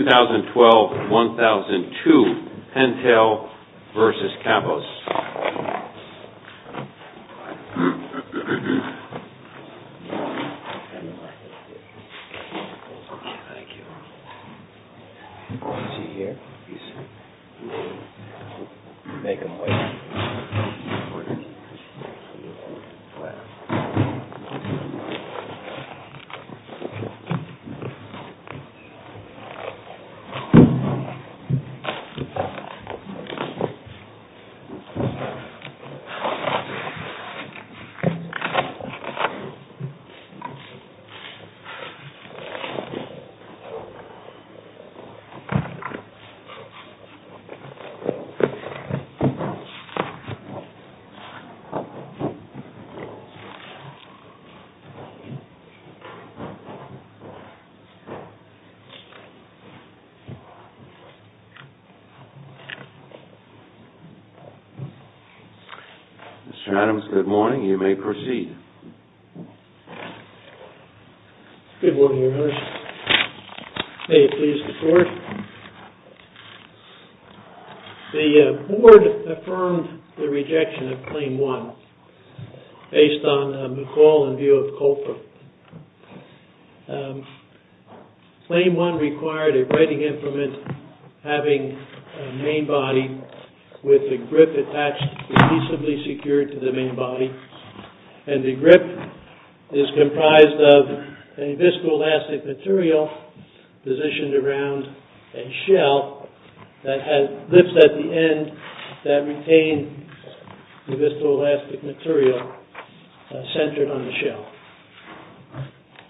2012-2002 PENTEL v. KAPPOS 2012-2013 PENTEL v. KAPPOS Mr. Adams, good morning. You may proceed. Good morning, Your Honor. May it please the Court? The Board affirmed the rejection of Claim 1 based on McCall and view of Colfer. Claim 1 required a writing implement having a main body with a grip attached adhesively secured to the main body, and the grip is comprised of a viscoelastic material positioned around a shell that has lips at the end that retain the viscoelastic material centered on the shell.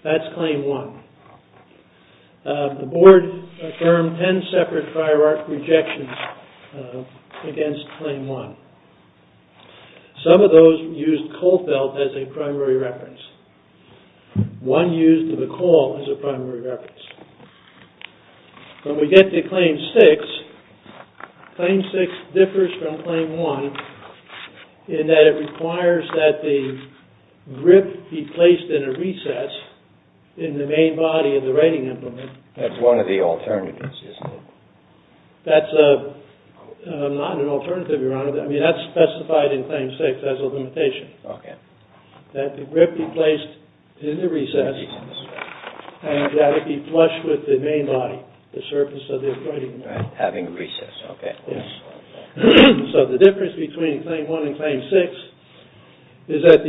That's Claim 1. The Board affirmed ten separate hierarchical rejections against Claim 1. Some of those used Colfer as a primary reference. One used McCall as a primary reference. When we get to Claim 6, Claim 6 differs from Claim 1 in that it requires that the grip be placed in a recess in the main body of the writing implement. That's one of the alternatives, isn't it? That's not an alternative, Your Honor. That's specified in Claim 6 as a limitation. Okay. So the difference between Claim 1 and Claim 6 is that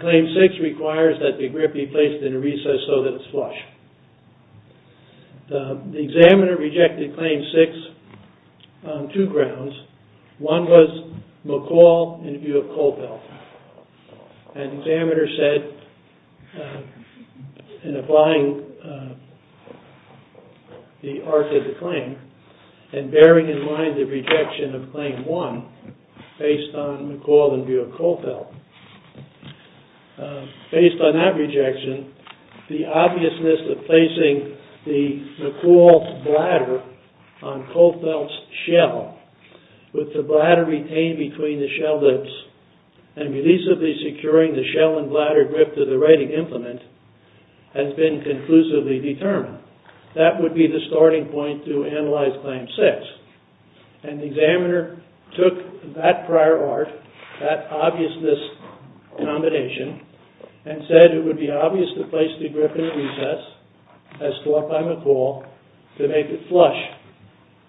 Claim 6 requires that the grip be placed in a recess so that it's flush. The examiner rejected Claim 6 on two grounds. One was McCall in view of Colfer. An examiner said, in applying the art of the claim and bearing in mind the rejection of Claim 1 based on McCall in view of Colfer, Based on that rejection, the obviousness of placing the McCall's bladder on Colfer's shell with the bladder retained between the shell lids and releasably securing the shell and bladder grip to the writing implement has been conclusively determined. That would be the starting point to analyze Claim 6. And the examiner took that prior art, that obviousness combination, and said it would be obvious to place the grip in a recess as taught by McCall to make it flush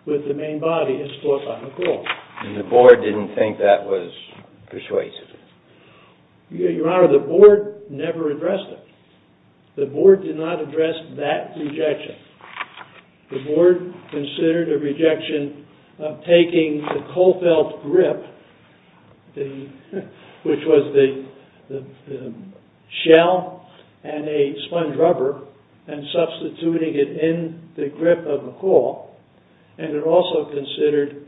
with the main body as taught by McCall. And the board didn't think that was persuasive? Your Honor, the board never addressed it. The board did not address that rejection. The board considered a rejection of taking the Colfelt grip, which was the shell and a sponge rubber, and substituting it in the grip of McCall. And it also considered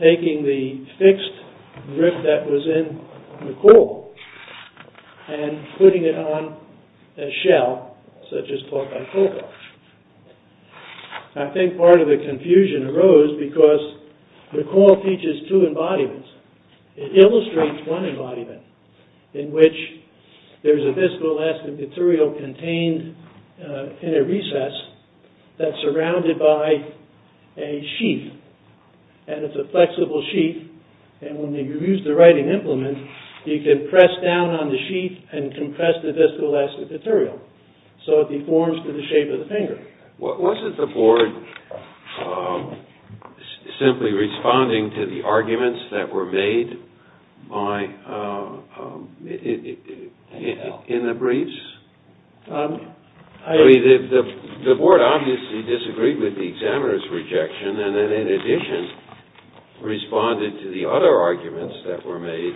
taking the fixed grip that was in McCall and putting it on a shell such as taught by Colfer. I think part of the confusion arose because McCall teaches two embodiments. It illustrates one embodiment in which there's a viscoelastic material contained in a recess that's surrounded by a sheath. And it's a flexible sheath. And when you use the writing implement, you can press down on the sheath and compress the viscoelastic material. So it deforms to the shape of the finger. Wasn't the board simply responding to the arguments that were made in the briefs? I mean, the board obviously disagreed with the examiner's rejection, and then in addition responded to the other arguments that were made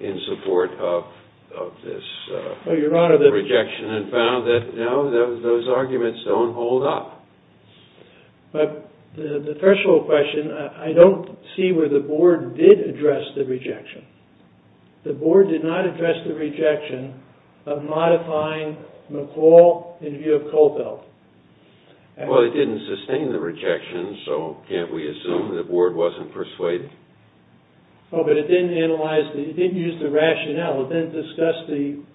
in support of this rejection and found that, no, those arguments don't hold up. But the threshold question, I don't see where the board did address the rejection. The board did not address the rejection of modifying McCall in view of Colfelt. Well, it didn't sustain the rejection, so can't we assume the board wasn't persuaded? Oh, but it didn't analyze, it didn't use the rationale. It didn't discuss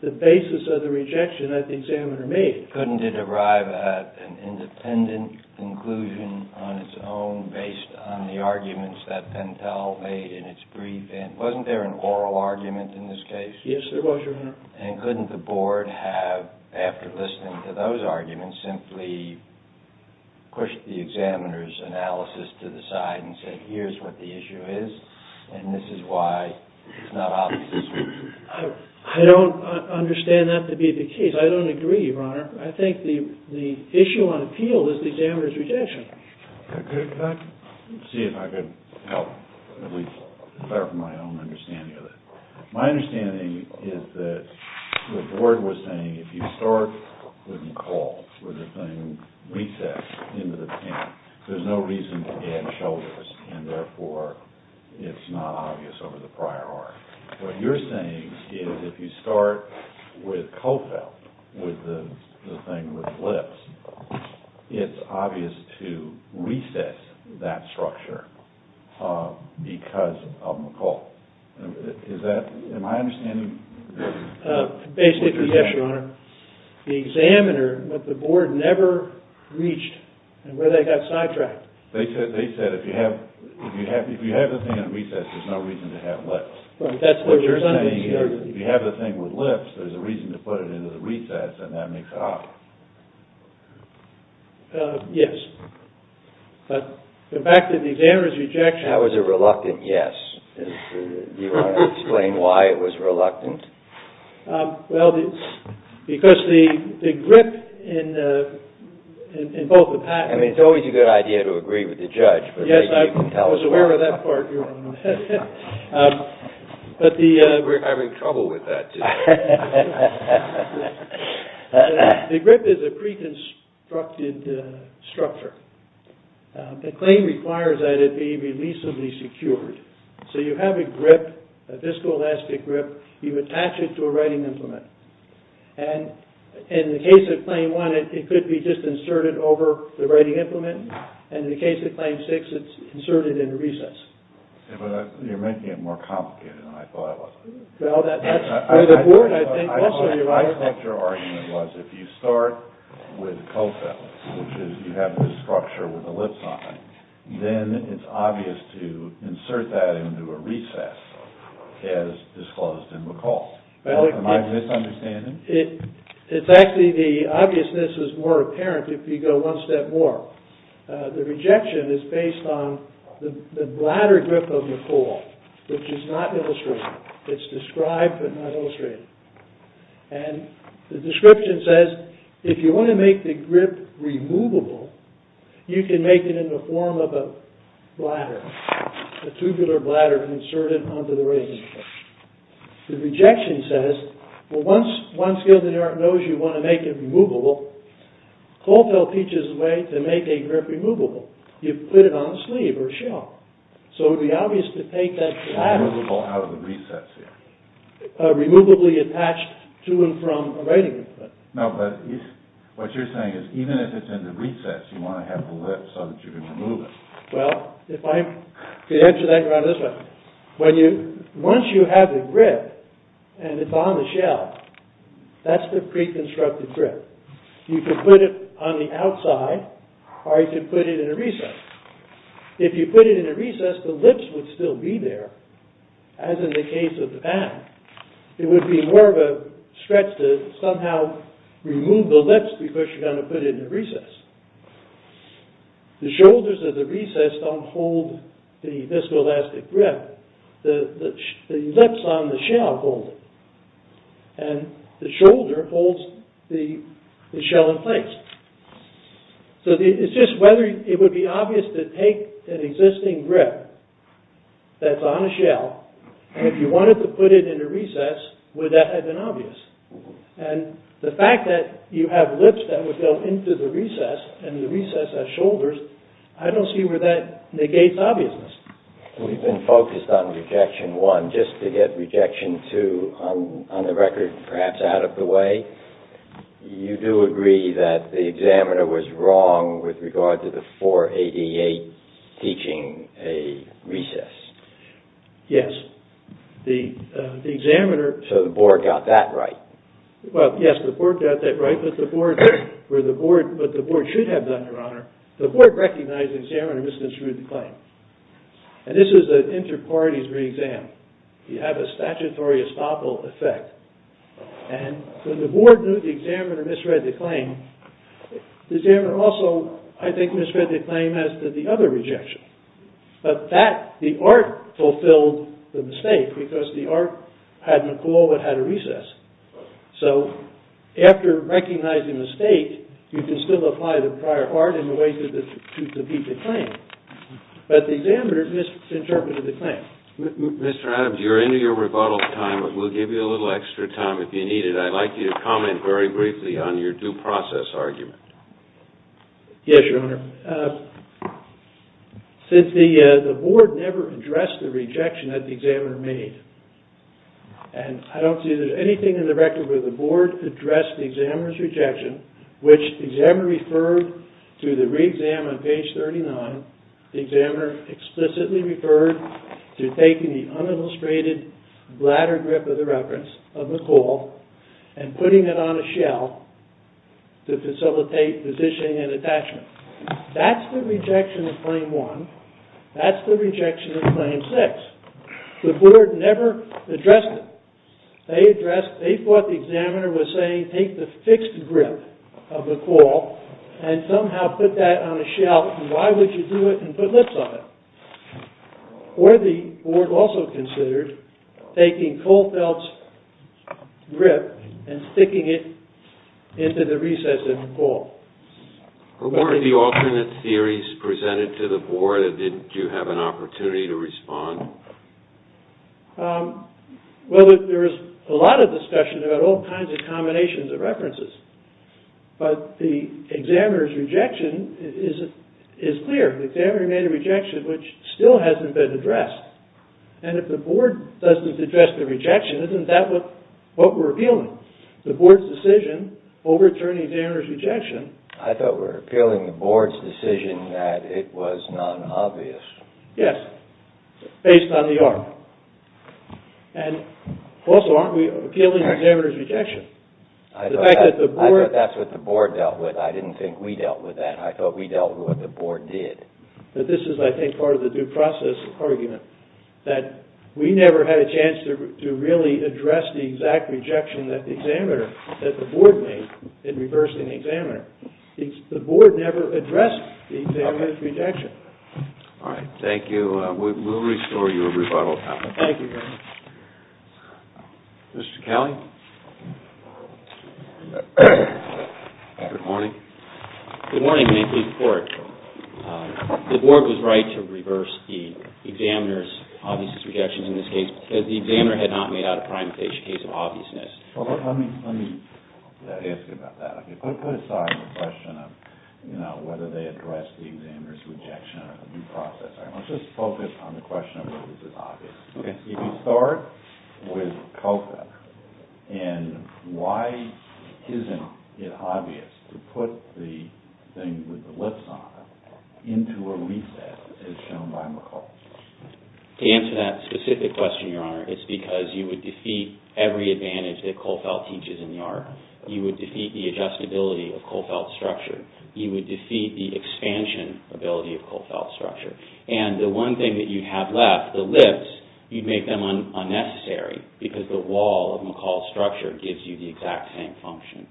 the basis of the rejection that the examiner made. Couldn't it arrive at an independent conclusion on its own based on the arguments that Pentel made in its brief? And wasn't there an oral argument in this case? Yes, there was, Your Honor. And couldn't the board have, after listening to those arguments, simply pushed the examiner's analysis to the side and said, here's what the issue is, and this is why it's not obvious as well? I don't understand that to be the case. I don't agree, Your Honor. I think the issue on appeal is the examiner's rejection. Could I see if I could help, at least clarify my own understanding of that? My understanding is that the board was saying if you start with McCall, with the thing recessed into the pen, there's no reason to add shoulders, and therefore it's not obvious over the prior argument. What you're saying is if you start with Colfelt, with the thing with lips, it's obvious to recess that structure because of McCall. Am I understanding what you're saying? Basically, yes, Your Honor. The examiner, what the board never reached, and where they got sidetracked. They said if you have the thing in recess, there's no reason to have lips. Right, that's what you're saying. What you're saying is if you have the thing with lips, there's a reason to put it into the recess, and that makes it obvious. Yes. But back to the examiner's rejection. That was a reluctant yes. Do you want to explain why it was reluctant? Well, because the grip in both the patent- I mean, it's always a good idea to agree with the judge. Yes, I was aware of that part, Your Honor. But the- We're having trouble with that today. The grip is a pre-constructed structure. The claim requires that it be releasably secured. So you have a grip, a viscoelastic grip. You attach it to a writing implement. And in the case of Claim 1, it could be just inserted over the writing implement. And in the case of Claim 6, it's inserted in recess. But you're making it more complicated than I thought it was. Well, that's- The board, I think, also- I think your argument was if you start with cofellas, which is you have this structure with the lips on it, then it's obvious to insert that into a recess as disclosed in McCall. Am I misunderstanding? It's actually the obviousness is more apparent if you go one step more. The rejection is based on the bladder grip of McCall, which is not illustrated. It's described but not illustrated. And the description says, if you want to make the grip removable, you can make it in the form of a bladder, a tubular bladder inserted onto the writing. The rejection says, well, once Gilded Heart knows you want to make it removable, Colfell teaches a way to make a grip removable. You put it on a sleeve or a shawl. So it would be obvious to take that bladder- Removable out of the recess, yeah. Removably attached to and from a writing. No, but what you're saying is even if it's in the recess, you want to have the lips so that you can remove it. Well, if I could answer that, you're on this one. Once you have the grip and it's on the shell, that's the pre-constructed grip. You can put it on the outside, or you can put it in a recess. If you put it in a recess, the lips would still be there, as in the case of the band. It would be more of a stretch to somehow remove the lips because you're going to put it in a recess. The shoulders of the recess don't hold the viscoelastic grip. The lips on the shell hold it. And the shoulder holds the shell in place. So it's just whether it would be obvious to take an existing grip that's on a shell, if you wanted to put it in a recess, would that have been obvious? And the fact that you have lips that would go into the recess and the recess has shoulders, I don't see where that negates obviousness. We've been focused on Rejection 1 just to get Rejection 2 on the record perhaps out of the way. You do agree that the examiner was wrong with regard to the 488 teaching a recess? Yes. So the board got that right? Well, yes, the board got that right, but the board should have done, Your Honor. The board recognized the examiner misread the claim. And this is an inter-parties re-exam. You have a statutory estoppel effect. And when the board knew the examiner misread the claim, the examiner also, I think, misread the claim as did the other rejection. But that, the art, fulfilled the mistake because the art had McCulloch and had a recess. So after recognizing the state, you can still apply the prior art in a way to beat the claim. But the examiner misinterpreted the claim. Mr. Adams, you're into your rebuttal time, but we'll give you a little extra time if you need it. I'd like you to comment very briefly on your due process argument. Yes, Your Honor. Since the board never addressed the rejection that the examiner made, and I don't see anything in the record where the board addressed the examiner's rejection, which the examiner referred to the re-exam on page 39. The examiner explicitly referred to taking the unillustrated bladder grip for the reference of McCulloch and putting it on a shell to facilitate positioning and attachment. That's the rejection of Claim 1. That's the rejection of Claim 6. The board never addressed it. They thought the examiner was saying take the fixed grip of McCulloch and somehow put that on a shell and why would you do it and put lips on it? Or the board also considered taking Kohlfeldt's grip and sticking it into the recess of McCulloch. Were there alternate theories presented to the board or didn't you have an opportunity to respond? Well, there was a lot of discussion about all kinds of combinations of references. But the examiner's rejection is clear. The examiner made a rejection which still hasn't been addressed. And if the board doesn't address the rejection, isn't that what we're appealing? The board's decision over attorney's examiner's rejection. I thought we were appealing the board's decision that it was non-obvious. Yes, based on the ARC. And also aren't we appealing the examiner's rejection? I thought that's what the board dealt with. I didn't think we dealt with that. I thought we dealt with what the board did. But this is, I think, part of the due process argument. That we never had a chance to really address the exact rejection that the board made in reversing the examiner. The board never addressed the examiner's rejection. All right, thank you. We'll restore your rebuttal. Thank you. Mr. Kelly? Good morning. Good morning, Mayfield Court. The board was right to reverse the examiner's obviousness rejection in this case because the examiner had not made out a prime case of obviousness. Let me ask you about that. Put aside the question of whether they addressed the examiner's rejection or due process. Let's just focus on the question of whether this is obvious. If you start with COPA and why isn't it obvious to put the thing with the lips on it into a recess as shown by McCall? To answer that specific question, Your Honor, it's because you would defeat every advantage that Kohlfeldt teaches in the art. You would defeat the adjustability of Kohlfeldt's structure. You would defeat the expansion ability of Kohlfeldt's structure. And the one thing that you have left, the lips, you'd make them unnecessary because the wall of McCall's structure gives you the exact same function.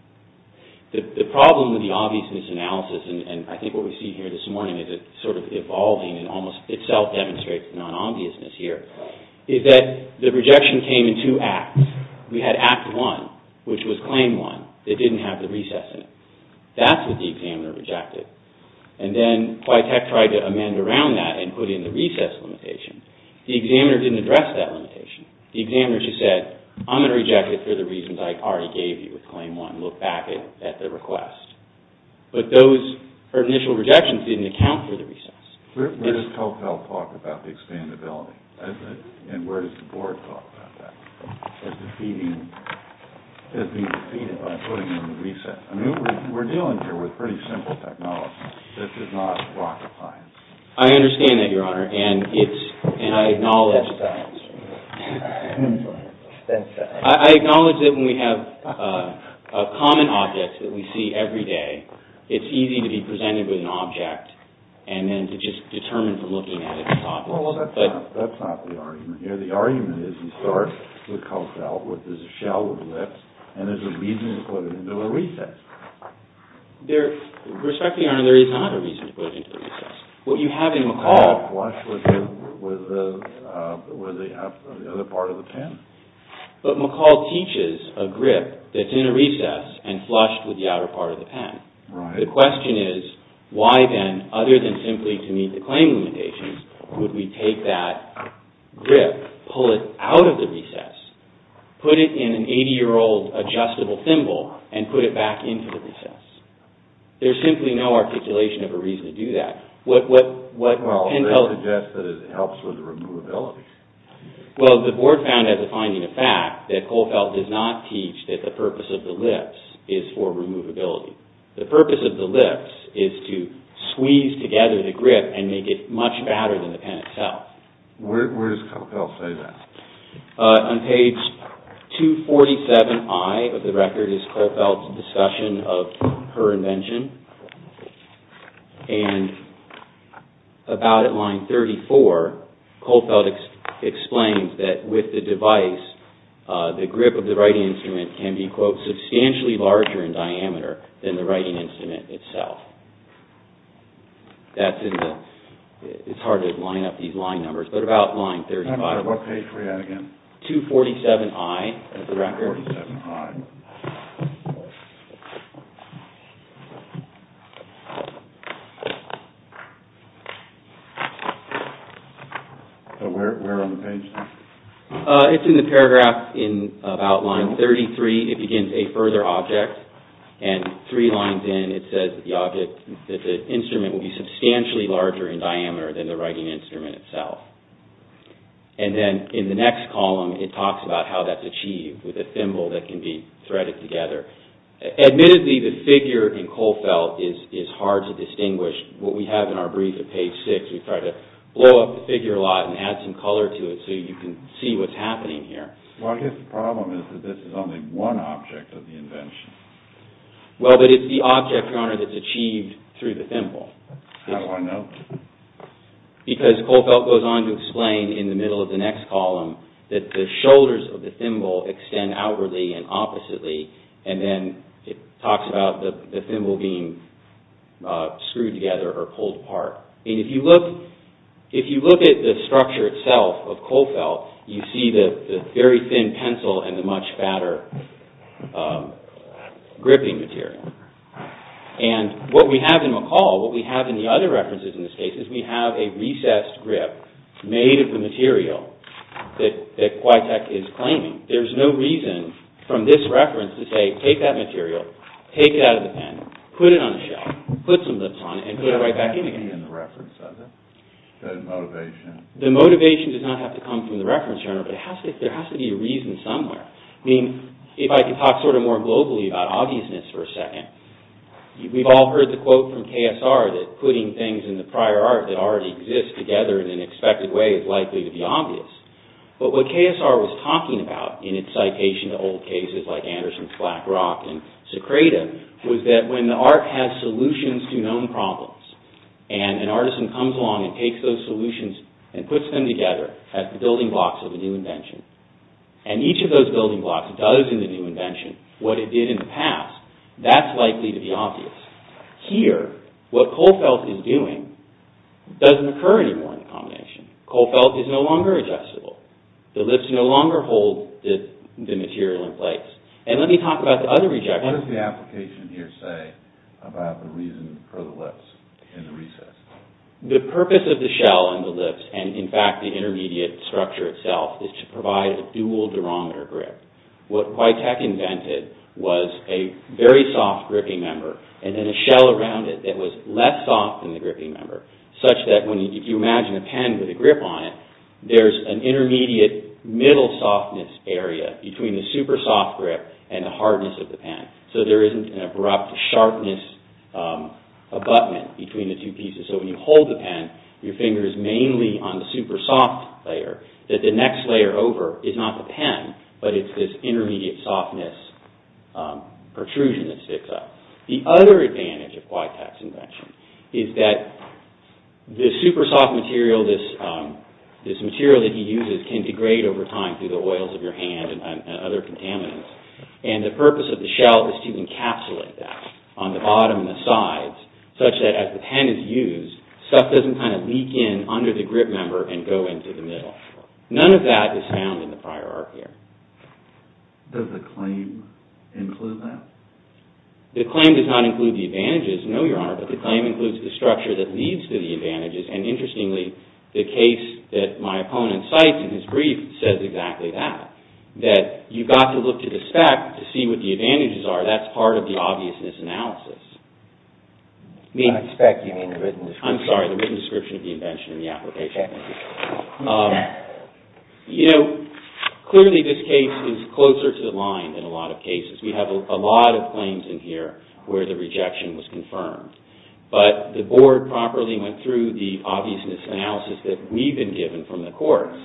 The problem with the obviousness analysis, and I think what we see here this morning is it sort of evolving and almost itself demonstrates non-obviousness here, is that the rejection came in two acts. We had Act 1, which was Claim 1. It didn't have the recess in it. That's what the examiner rejected. And then Quytek tried to amend around that and put in the recess limitation. The examiner didn't address that limitation. The examiner just said, I'm going to reject it for the reasons that I already gave you with Claim 1. Look back at the request. But those initial rejections didn't account for the recess. Where does Kohlfeldt talk about the expandability? And where does the board talk about that? As being defeated by putting in the recess? I mean, we're dealing here with pretty simple technology that does not block appliance. I understand that, Your Honor, and I acknowledge that. I acknowledge that when we have common objects that we see every day, it's easy to be presented with an object and then to just determine from looking at it, it's obvious. Well, that's not the argument here. The argument is you start with Kohlfeldt with this shell of lips and there's a reason to put it into a recess. Respectfully, Your Honor, there is not a reason to put it into a recess. What you have in McCall... With the other part of the pen? But McCall teaches a grip that's in a recess and flushed with the outer part of the pen. Right. The question is, why then, other than simply to meet the claim limitations, would we take that grip, pull it out of the recess, put it in an 80-year-old adjustable thimble and put it back into the recess? There's simply no articulation of a reason to do that. They suggest that it helps with the removability. Well, the board found, as a finding of fact, that Kohlfeldt does not teach that the purpose of the lips is for removability. The purpose of the lips is to squeeze together the grip and make it much badder than the pen itself. Where does Kohlfeldt say that? On page 247I of the record is Kohlfeldt's discussion of her invention and about at line 34, Kohlfeldt explains that with the device, the grip of the writing instrument can be, quote, substantially larger in diameter than the writing instrument itself. That's in the... It's hard to line up these line numbers, but about line 35... What page were you at again? 247I of the record. 247I. Where on the page? It's in the paragraph in about line 33. It begins, A further object. And three lines in, it says that the instrument will be substantially larger in diameter than the writing instrument itself. And then in the next column, it talks about how that's achieved with a thimble that can be threaded together. Admittedly, the figure in Kohlfeldt is hard to distinguish. What we have in our brief at page 6, we try to blow up the figure a lot and add some color to it so you can see what's happening here. Well, I guess the problem is that this is only one object of the invention. Well, but it's the object, Your Honor, that's achieved through the thimble. How do I know? Because Kohlfeldt goes on to explain in the middle of the next column that the shoulders of the thimble extend outwardly and oppositely, and then it talks about the thimble being screwed together or pulled apart. And if you look at the structure itself of Kohlfeldt, you see the very thin pencil and the much fatter gripping material. And what we have in McCall, what we have in the other references in this case, is we have a recessed grip made of the material that Quitek is claiming. There's no reason from this reference to say, take that material, take it out of the pen, put it on a shelf, put some lips on it, and put it right back in again. Does that have to be in the reference, does it? Does the motivation... The motivation does not have to come from the reference, Your Honor, but there has to be a reason somewhere. I mean, if I could talk sort of more globally about obviousness for a second. We've all heard the quote from KSR that putting things in the prior art that already exist together in an expected way is likely to be obvious. But what KSR was talking about in its citation to old cases like Anderson's Black Rock and Secreta was that when the art has solutions to known problems and an artisan comes along and takes those solutions and puts them together as the building blocks of a new invention, and each of those building blocks does in the new invention what it did in the past, that's likely to be obvious. Here, what Kohlfeldt is doing doesn't occur anymore in the combination. Kohlfeldt is no longer adjustable. The lips no longer hold the material in place. And let me talk about the other rejection. What does the application here say about the reason for the lips in the recess? The purpose of the shell and the lips and, in fact, the intermediate structure itself is to provide a dual durometer grip. What Whiteck invented was a very soft gripping member and then a shell around it that was less soft than the gripping member such that when you imagine a pen with a grip on it, there's an intermediate middle softness area between the super soft grip and the hardness of the pen. So there isn't an abrupt sharpness abutment between the two pieces. So when you hold the pen, your finger is mainly on the super soft layer that the next layer over is not the pen, but it's this intermediate softness protrusion that sticks up. The other advantage of Whiteck's invention is that the super soft material, this material that he uses can degrade over time through the oils of your hand and other contaminants. And the purpose of the shell is to encapsulate that on the bottom and the sides such that as the pen is used, stuff doesn't kind of leak in under the grip member and go into the middle. None of that is found in the prior art here. Does the claim include that? The claim does not include the advantages, no, Your Honor, but the claim includes the structure that leads to the advantages and, interestingly, the case that my opponent cites in his brief says exactly that, that you've got to look to the spec to see what the advantages are. That's part of the obviousness analysis. By spec, you mean the written description. I'm sorry, the written description of the invention and the application. Okay. You know, clearly this case is closer to the line than a lot of cases. We have a lot of claims in here where the rejection was confirmed, but the board properly went through the obviousness analysis that we've been given from the courts.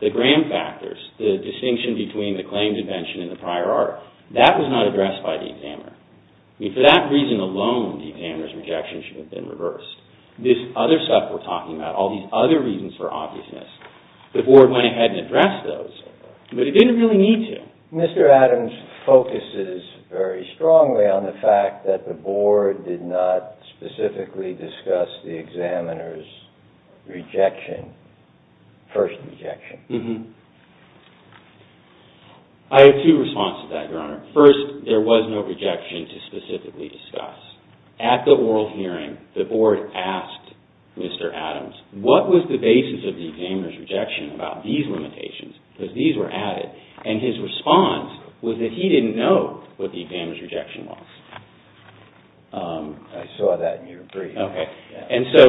The gram factors, the distinction between the claims invention and the prior art, that was not addressed by the examiner. I mean, for that reason alone, the examiner's rejection should have been reversed. This other stuff we're talking about, all these other reasons for obviousness, the board went ahead and addressed those, but it didn't really need to. Mr. Adams focuses very strongly on the fact that the board did not specifically discuss the examiner's rejection, first rejection. I have two responses to that, Your Honor. First, there was no rejection to specifically discuss. At the oral hearing, the board asked Mr. Adams, what was the basis of the examiner's rejection about these limitations? Because these were added. And his response was that he didn't know what the examiner's rejection was. I saw that in your brief. Okay. And so,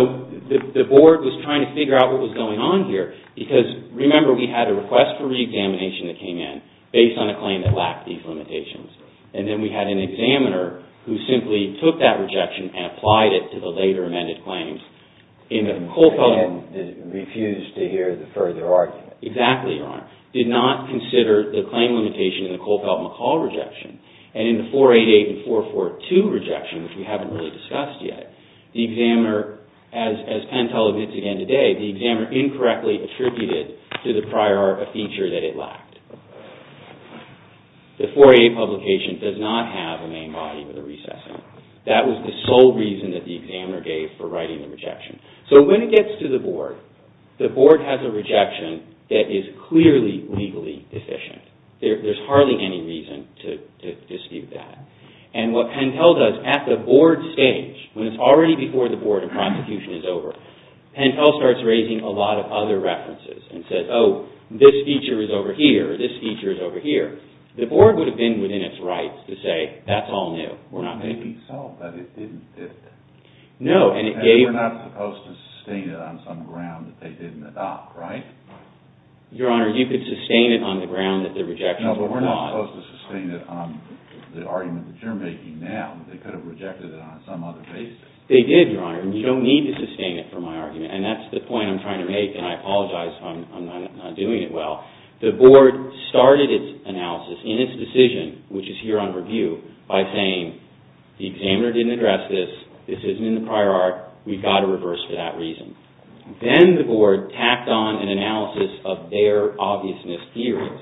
the board was trying to figure out what was going on here, because remember, we had a request for re-examination that came in, based on a claim that lacked these limitations. And then we had an examiner who simply took that rejection and applied it to the later amended claims. And refused to hear the further argument. Exactly, Your Honor. Did not consider the claim limitation in the Kohlfeldt-McCall rejection. And in the 488 and 442 rejection, which we haven't really discussed yet, the examiner, as Pentel admits again today, the examiner incorrectly attributed to the prior art a feature that it lacked. The 488 publication does not have a main body for the recessing. That was the sole reason that the examiner gave for writing the rejection. So, when it gets to the board, the board has a rejection that is clearly legally deficient. There's hardly any reason to dispute that. And what Pentel does, at the board stage, when it's already before the board of prosecution is over, Pentel starts raising a lot of other references. And says, oh, this feature is over here. This feature is over here. The board would have been within its rights to say, that's all new. Maybe so, but it didn't fit. No, and it gave... And we're not supposed to sustain it on some ground that they didn't adopt, right? Your Honor, you could sustain it on the ground that the rejections were flawed. No, but we're not supposed to sustain it on the argument that you're making now. They could have rejected it on some other basis. They did, Your Honor. And you don't need to sustain it for my argument. And that's the point I'm trying to make. And I apologize if I'm not doing it well. The board started its analysis in its decision, which is here on review, by saying, the examiner didn't address this. This isn't in the prior art. We've got to reverse for that reason. Then the board tacked on an analysis of their obviousness theories.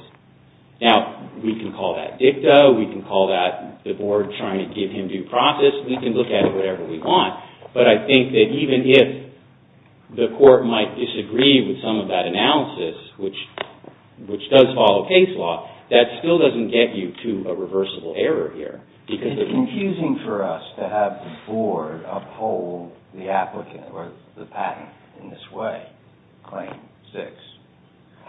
Now, we can call that dicta. We can call that the board trying to give him due process. We can look at it whatever we want. But I think that even if the court might disagree with some of that analysis, which does follow case law, that still doesn't get you to a reversible error here. It's confusing for us to have the board uphold the applicant or the patent in this way, Claim 6.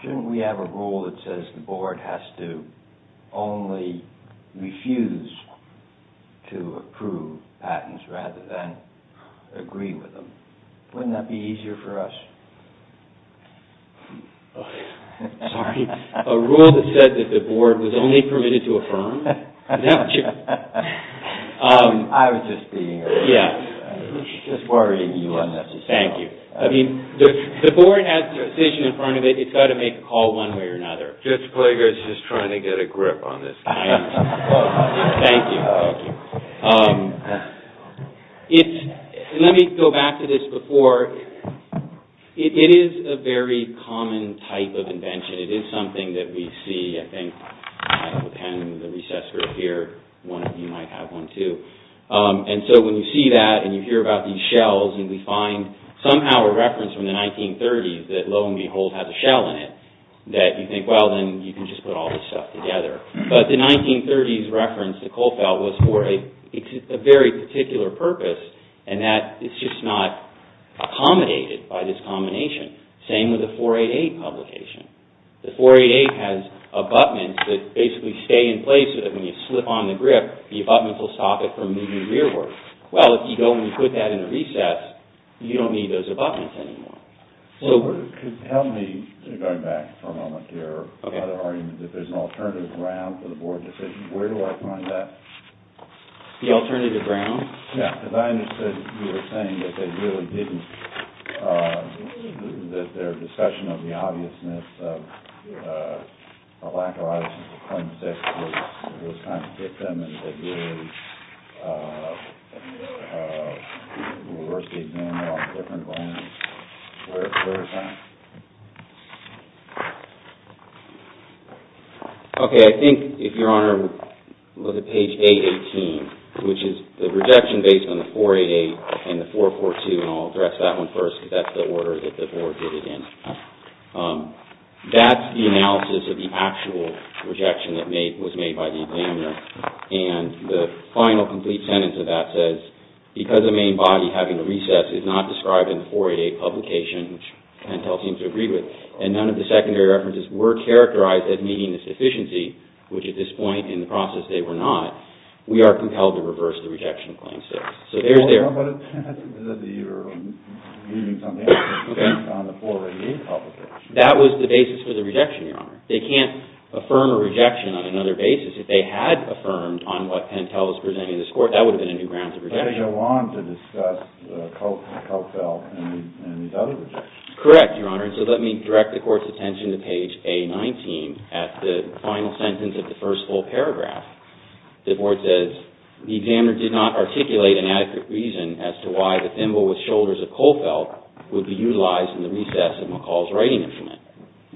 Shouldn't we have a rule that says the board has to only refuse to approve patents rather than agree with them? Wouldn't that be easier for us? Sorry. A rule that said that the board was only permitted to affirm? I was just being... Yeah. Just worrying you unnecessarily. Thank you. I mean, the board has a decision in front of it. It's got to make a call one way or another. Judge Plaguer is just trying to get a grip on this. Thank you. Thank you. Let me go back to this before. It is a very common type of invention. It is something that we see, I think, in the recess group here. One of you might have one too. And so when you see that and you hear about these shells and we find somehow a reference from the 1930s that lo and behold has a shell in it, that you think, well, then you can just put all this stuff together. But the 1930s reference to Kohlfeldt was for a very particular purpose and that is just not accommodated by this combination. Same with the 488 publication. The 488 has abutments that basically stay in place so that when you slip on the grip, the abutments will stop it from moving rearward. Well, if you go and put that in the recess, you don't need those abutments anymore. So, tell me, going back for a moment here, if there's an alternative ground for the board decision, where do I find that? The alternative ground? Yeah, because I understood you were saying that they really didn't, that their discussion of the obviousness of a lack of obviousness in 2006 was trying to get them into the university agenda on different grounds. Where is that? Okay, if Your Honor, look at page 818, which is the rejection based on the 488 and the 442, and I'll address that one first because that's the order that the board did it in. That's the analysis of the actual rejection that was made by the examiner and the final, complete sentence of that says, because the main body having a recess is not described in the 488 publication, which Pentel seems to agree with, and none of the secondary references were characterized as meeting this deficiency, which at this point in the process they were not, we are compelled to reverse the rejection of Claim 6. So there's their... Well, but that's whether you're using something based on the 488 publication. That was the basis for the rejection, Your Honor. They can't affirm a rejection on another basis if they had affirmed on what Pentel was presenting to this Court. That would have been a new grounds of rejection. But they go on to discuss the Coat Belt and these other rejections. Correct, Your Honor. And so let me direct the Court's attention to page A19 at the final sentence of the first full paragraph. The board says, the examiner did not articulate an adequate reason as to why the thimble with shoulders of Coat Belt would be utilized in the recess of McCall's writing instrument.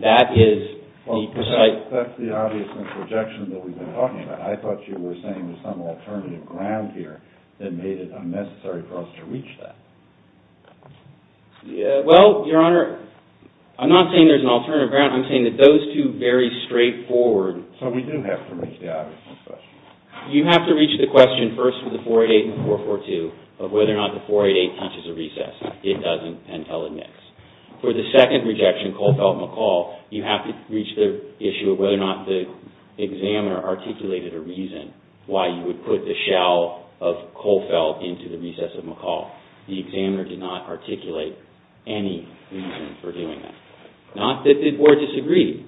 That is the precise... That's the obvious rejection that we've been talking about. I thought you were saying there's some alternative ground here that made it unnecessary for us to reach that. Well, Your Honor, I'm not saying there's an alternative ground. I'm saying that those two very straightforward... So we do have to reach the obvious question. You have to reach the question first with the 488 and 442 of whether or not the 488 teaches a recess. It doesn't. Pentel admits. For the second rejection, Coat Belt-McCall, you have to reach the issue of whether or not the examiner articulated a reason why you would put the shell of Coat Belt into the recess of McCall. The examiner did not articulate any reason for doing that. Not that the board disagreed,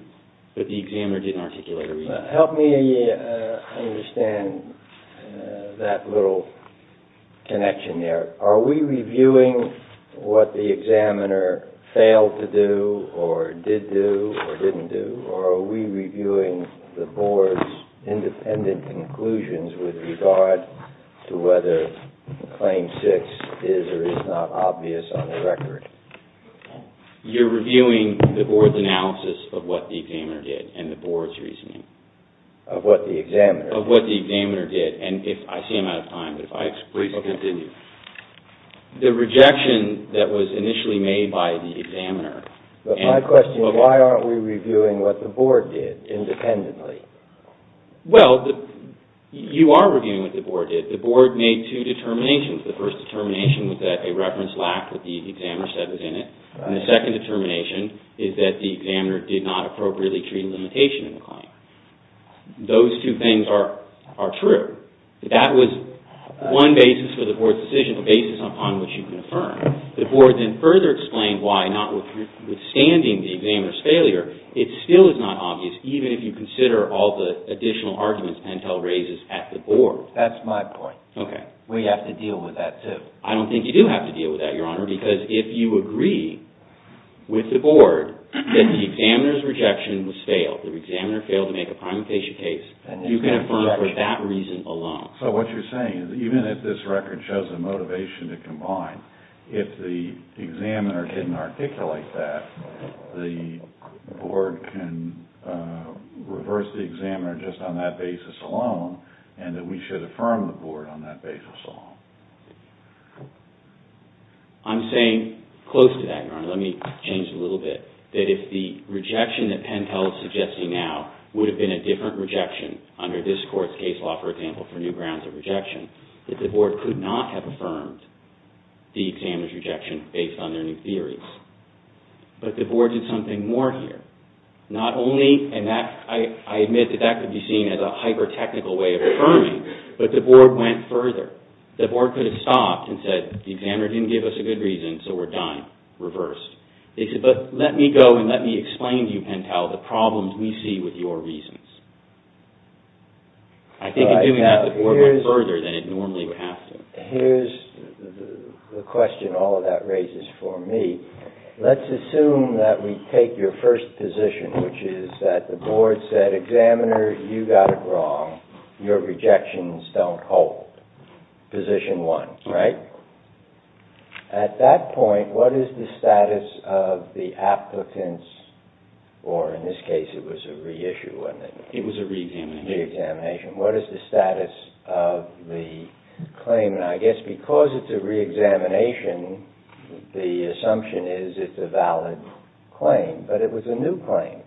but the examiner didn't articulate a reason. Help me understand that little connection there. Are we reviewing what the examiner failed to do or did do or didn't do or are we reviewing the board's independent conclusions with regard to whether Claim 6 is or is not obvious on the record? You're reviewing the board's analysis of what the examiner did and the board's reasoning. Of what the examiner did? Of what the examiner did. I see I'm out of time, but please continue. The rejection that was initially made by the examiner but my question is why aren't we reviewing what the board did independently? Well, you are reviewing what the board did. The board made two determinations. The first determination was that a reference lacked what the examiner said was in it. The second determination is that the examiner did not appropriately treat limitation in the board. Withstanding the examiner's failure, it still is not obvious even if you consider all the additional arguments Pentel raises at the board. That's my point. Okay. We have to deal with that too. I don't think you do have to deal with that, Your Honor, because if you agree with the board that the examiner's rejection was failed, the examiner failed to make a primary case, you can affirm for that reason alone. So what you're saying is that even if this record shows a motivation to combine, if the examiner didn't articulate that, the board can reverse the examiner just on that basis alone and that we should affirm the board on that basis alone. I'm saying close to that, Your Honor. Let me change a little bit that if the rejection that Pentel is suggesting now would have been a different rejection under this court's case law, for example, for new grounds of rejection, that the board could not have affirmed the examiner's rejection based on their new theories. But the board did something more here. Not only, and I admit that that could be seen as a hyper-technical way of affirming, but the board went further. The board could have stopped and said, the examiner didn't give us a good reason, so we're done. Reversed. They said, but let me go and let me explain to you, Pentel, the problems we see with your reasons. I think in doing that the board went further than it normally would have to. Here's the problem. Position one, right? At that point, what is the status of the applicants, or in this case it was a re-issue, wasn't it? It was a re-examination. What is the status of the claim? I guess because it's a re-examination, the assumption is it's a valid claim, but it was a new claim.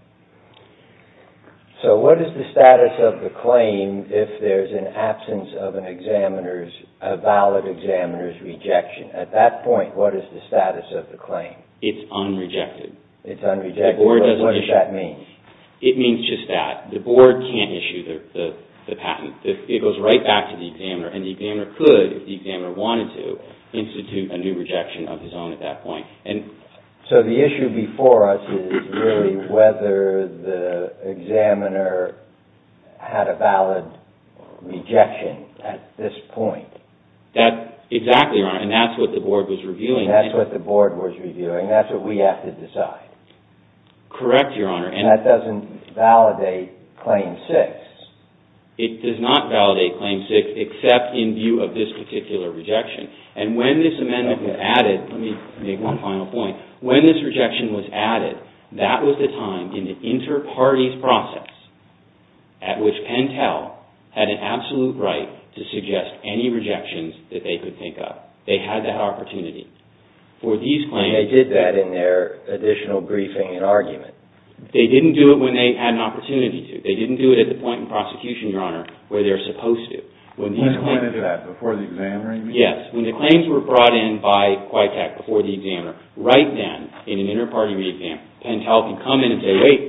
So what is the status of the claim if there's an absence of a valid examiner's rejection? At that point, what is the status of the claim? It's unrejected. It's unrejected. What does that mean? It means just that. The board can't issue the patent. It goes right back to the examiner, and the examiner could, if the examiner wanted to, institute a new rejection of his own at that point. So the us is really whether the examiner had a valid rejection at this point. Exactly, Your Honor, and that's what the board was reviewing. That's what the board was reviewing. That's what we have to decide. Correct, Your Honor, and that doesn't validate Claim 6. It does not validate Claim 6, except in view of this particular rejection, and when this amendment was added, let me make one final point, when this rejection was added, that was the time in the inter-party process at which Pentel had an absolute right to suggest any rejections that they could think of. They had that opportunity for these claims. And they did that in their additional briefing and argument. They didn't do it when they had an opportunity to. They didn't do it at the point in prosecution, Your Honor, where they were supposed to. When the claims were brought in by Quitek before the examiner, right then, in an inter-party re-exam, Pentel could come in and say, wait,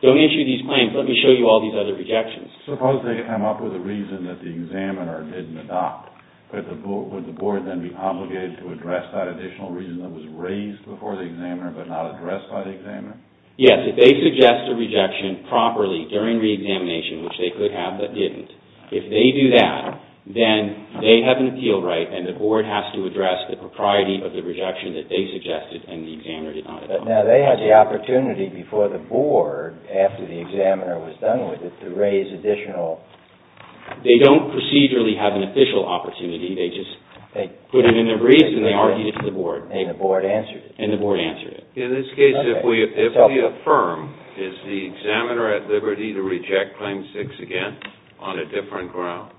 don't issue these claims, let me show you all these other rejections. Suppose they come up with a reason that the examiner did not agree with. If they do that, then they have an appeal right and the board has to address the propriety of the rejection that they suggested and the examiner did not. Now, they had the opportunity before the board, after the examiner was done with it, to raise additional They don't procedurally have an official opportunity, they just put it in their briefs and they argued it to the board. And the board answered it. In this case, if we affirm, is the examiner at liberty to reject Claim 6 again on a different ground?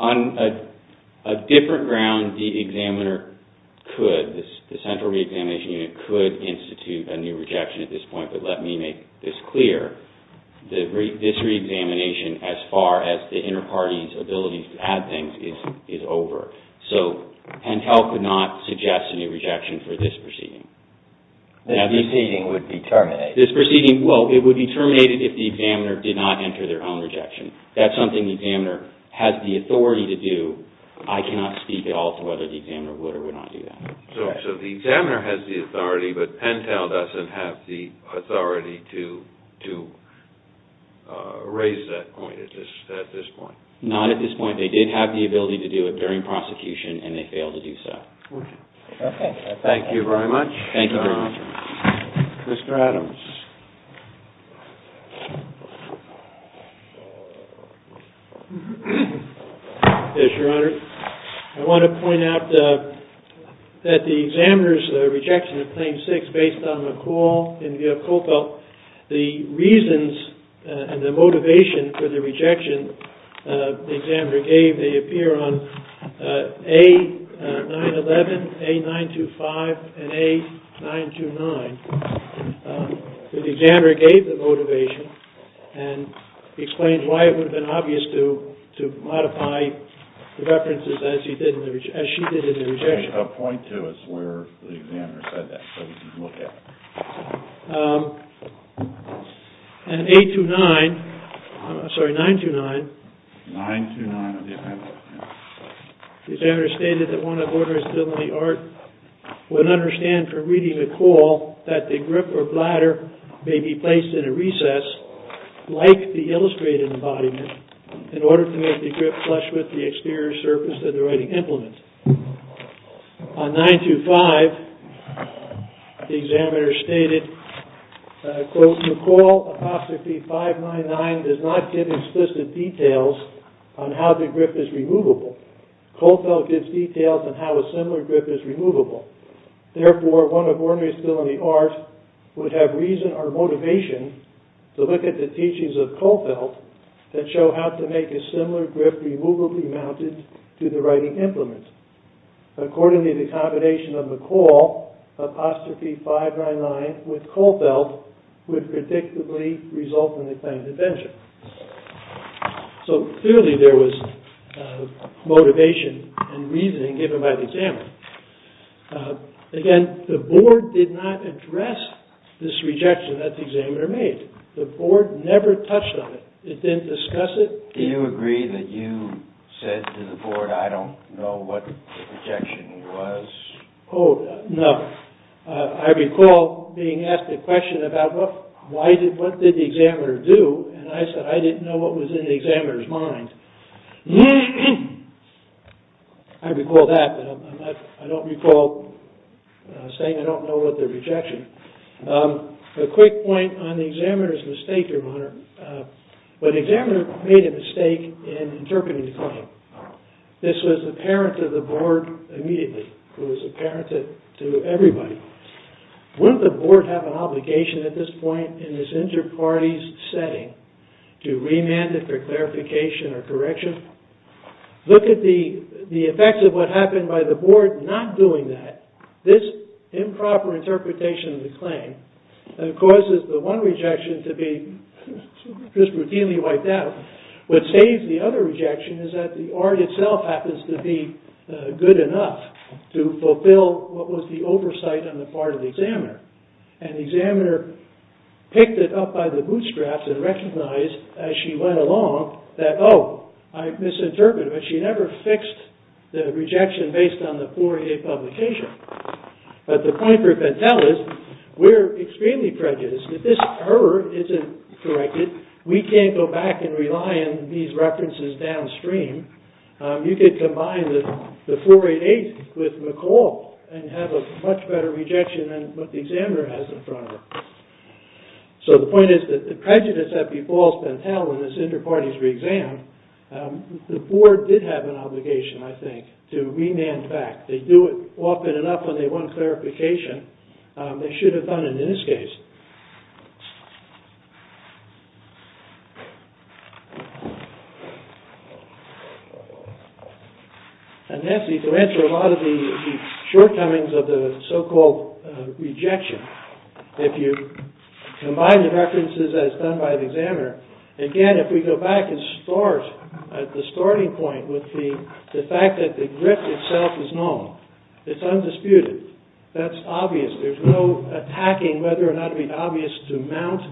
On a different ground, the examiner could, the central reexamination unit could institute a new rejection at this point, but let me make this clear, this reexamination as far as the interparty's ability to add things is over. So, Pentel could not suggest a new rejection for this proceeding. This proceeding would be terminated. This proceeding, well, it would be terminated if the examiner did not enter their own rejection. That's something the examiner has the authority to do. I cannot speak at all to whether the examiner would or would not do that. So the examiner has the authority, but Pentel doesn't have the authority to raise that point at this point. Not at this point. They did have the ability to do it during prosecution and they failed to do so. Thank you very much. Thank you, Your Honor. Mr. Adams. Yes, Your Honor. I want to point out that the rejection of Claim 6 based on McCall and Villacoppo, the reasons and the motivation for the rejection the examiner gave, they appear on A-911, A-925, and A-929. The examiner gave the motivation and explains why it would have been obvious to modify the references as she did in the rejection. Could you point to us where the examiner said that so we can look at it? In A-929, the examiner stated that one of the orders of the art would understand from reading McCall that the grip or bladder may be placed in a recess like the illustrated in the embodiment in order to make the grip flush with the exterior surface that the writing implements. On A-925, the examiner stated, quote, McCall, apostrophe 599, does not give explicit details on how the grip is removable. Kohlfeldt gives details on how a similar grip is removably mounted to the writing implements. Accordingly, the combination of McCall, apostrophe 599, with Kohlfeldt, would predictably result in the claimed invention. So, clearly, there was motivation and reasoning given by the examiner. Again, the board did not address this rejection that the examiner made. The board never touched on it. It didn't discuss it. Do you agree that you said to the board, I don't know what the rejection was? Oh, no. I recall being asked the question about what did the examiner do, and I said I didn't know what was in the examiner's mind. I recall that, but I don't recall saying I don't know what the rejection was. A quick point on the examiner's mistake, your Honor. The examiner made a mistake in interpreting the claim. This was apparent to the board immediately. It was apparent to everybody. Wouldn't the board have an obligation at this point in this inter- parties setting to remand it for clarification or correction? Look at the effects of what happened by the board not doing that. This improper interpretation of the claim causes the one rejection to be just routinely wiped out. What saves the other rejection is that the art itself happens to be good enough to fulfill what the board mind. The board picked it up by the bootstraps and recognized as she went along that oh, I misinterpreted it, but she never fixed the rejection based on the 488 publication. But the point we're trying to tell is we're extremely prejudiced. If this error isn't corrected, we can't go back and rely on these references downstream. You could combine the 488 with McCall and have a much better rejection than what the examiner has in front of her. So the point is that the prejudice that befalls Pentel in this inter- parties re- exam, the board did have an obligation, I think, to remand back. They do it often enough when they want clarification. They should have done it in this case. And hence you can answer a lot of the shortcomings of the so-called rejection. If you combine the references as done by the examiner, again, if we go back and start at the with the fact that the grip itself is normal, it's undisputed, that's obvious. There's no attacking the examiner. There's no asking whether or not to be obvious to mount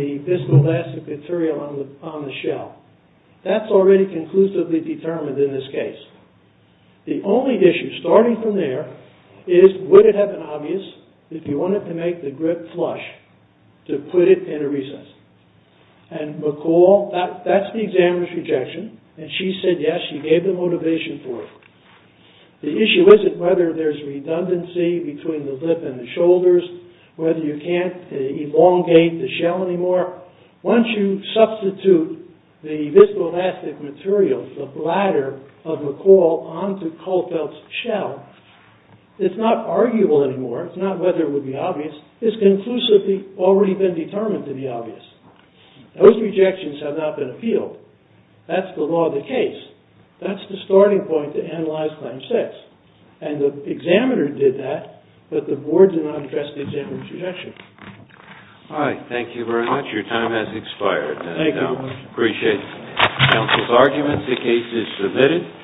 the viscoelastic material on the shell. That's already conclusively determined in this case. The only issue starting from there is would it have been obvious if you wanted to make the grip flush to put it in a recess? And McCall, that's the examiner's rejection, and she said yes, she gave the motivation for it. The issue isn't whether there's redundancy between the lip and the shoulders, whether you can't elongate the shell anymore. Once you substitute the viscoelastic material, the bladder of McCall onto Caulfield's shell, it's not arguable anymore. It's not whether it would be obvious. It's conclusively already been determined to be obvious. Those rejections have not been appealed. That's the law of the case. That's the starting point to analyze Claim 6. And the examiner did that, but the board did not address the examiner's rejection. All right. Thank you very much. Your time has expired. Appreciate counsel's arguments. The case is submitted.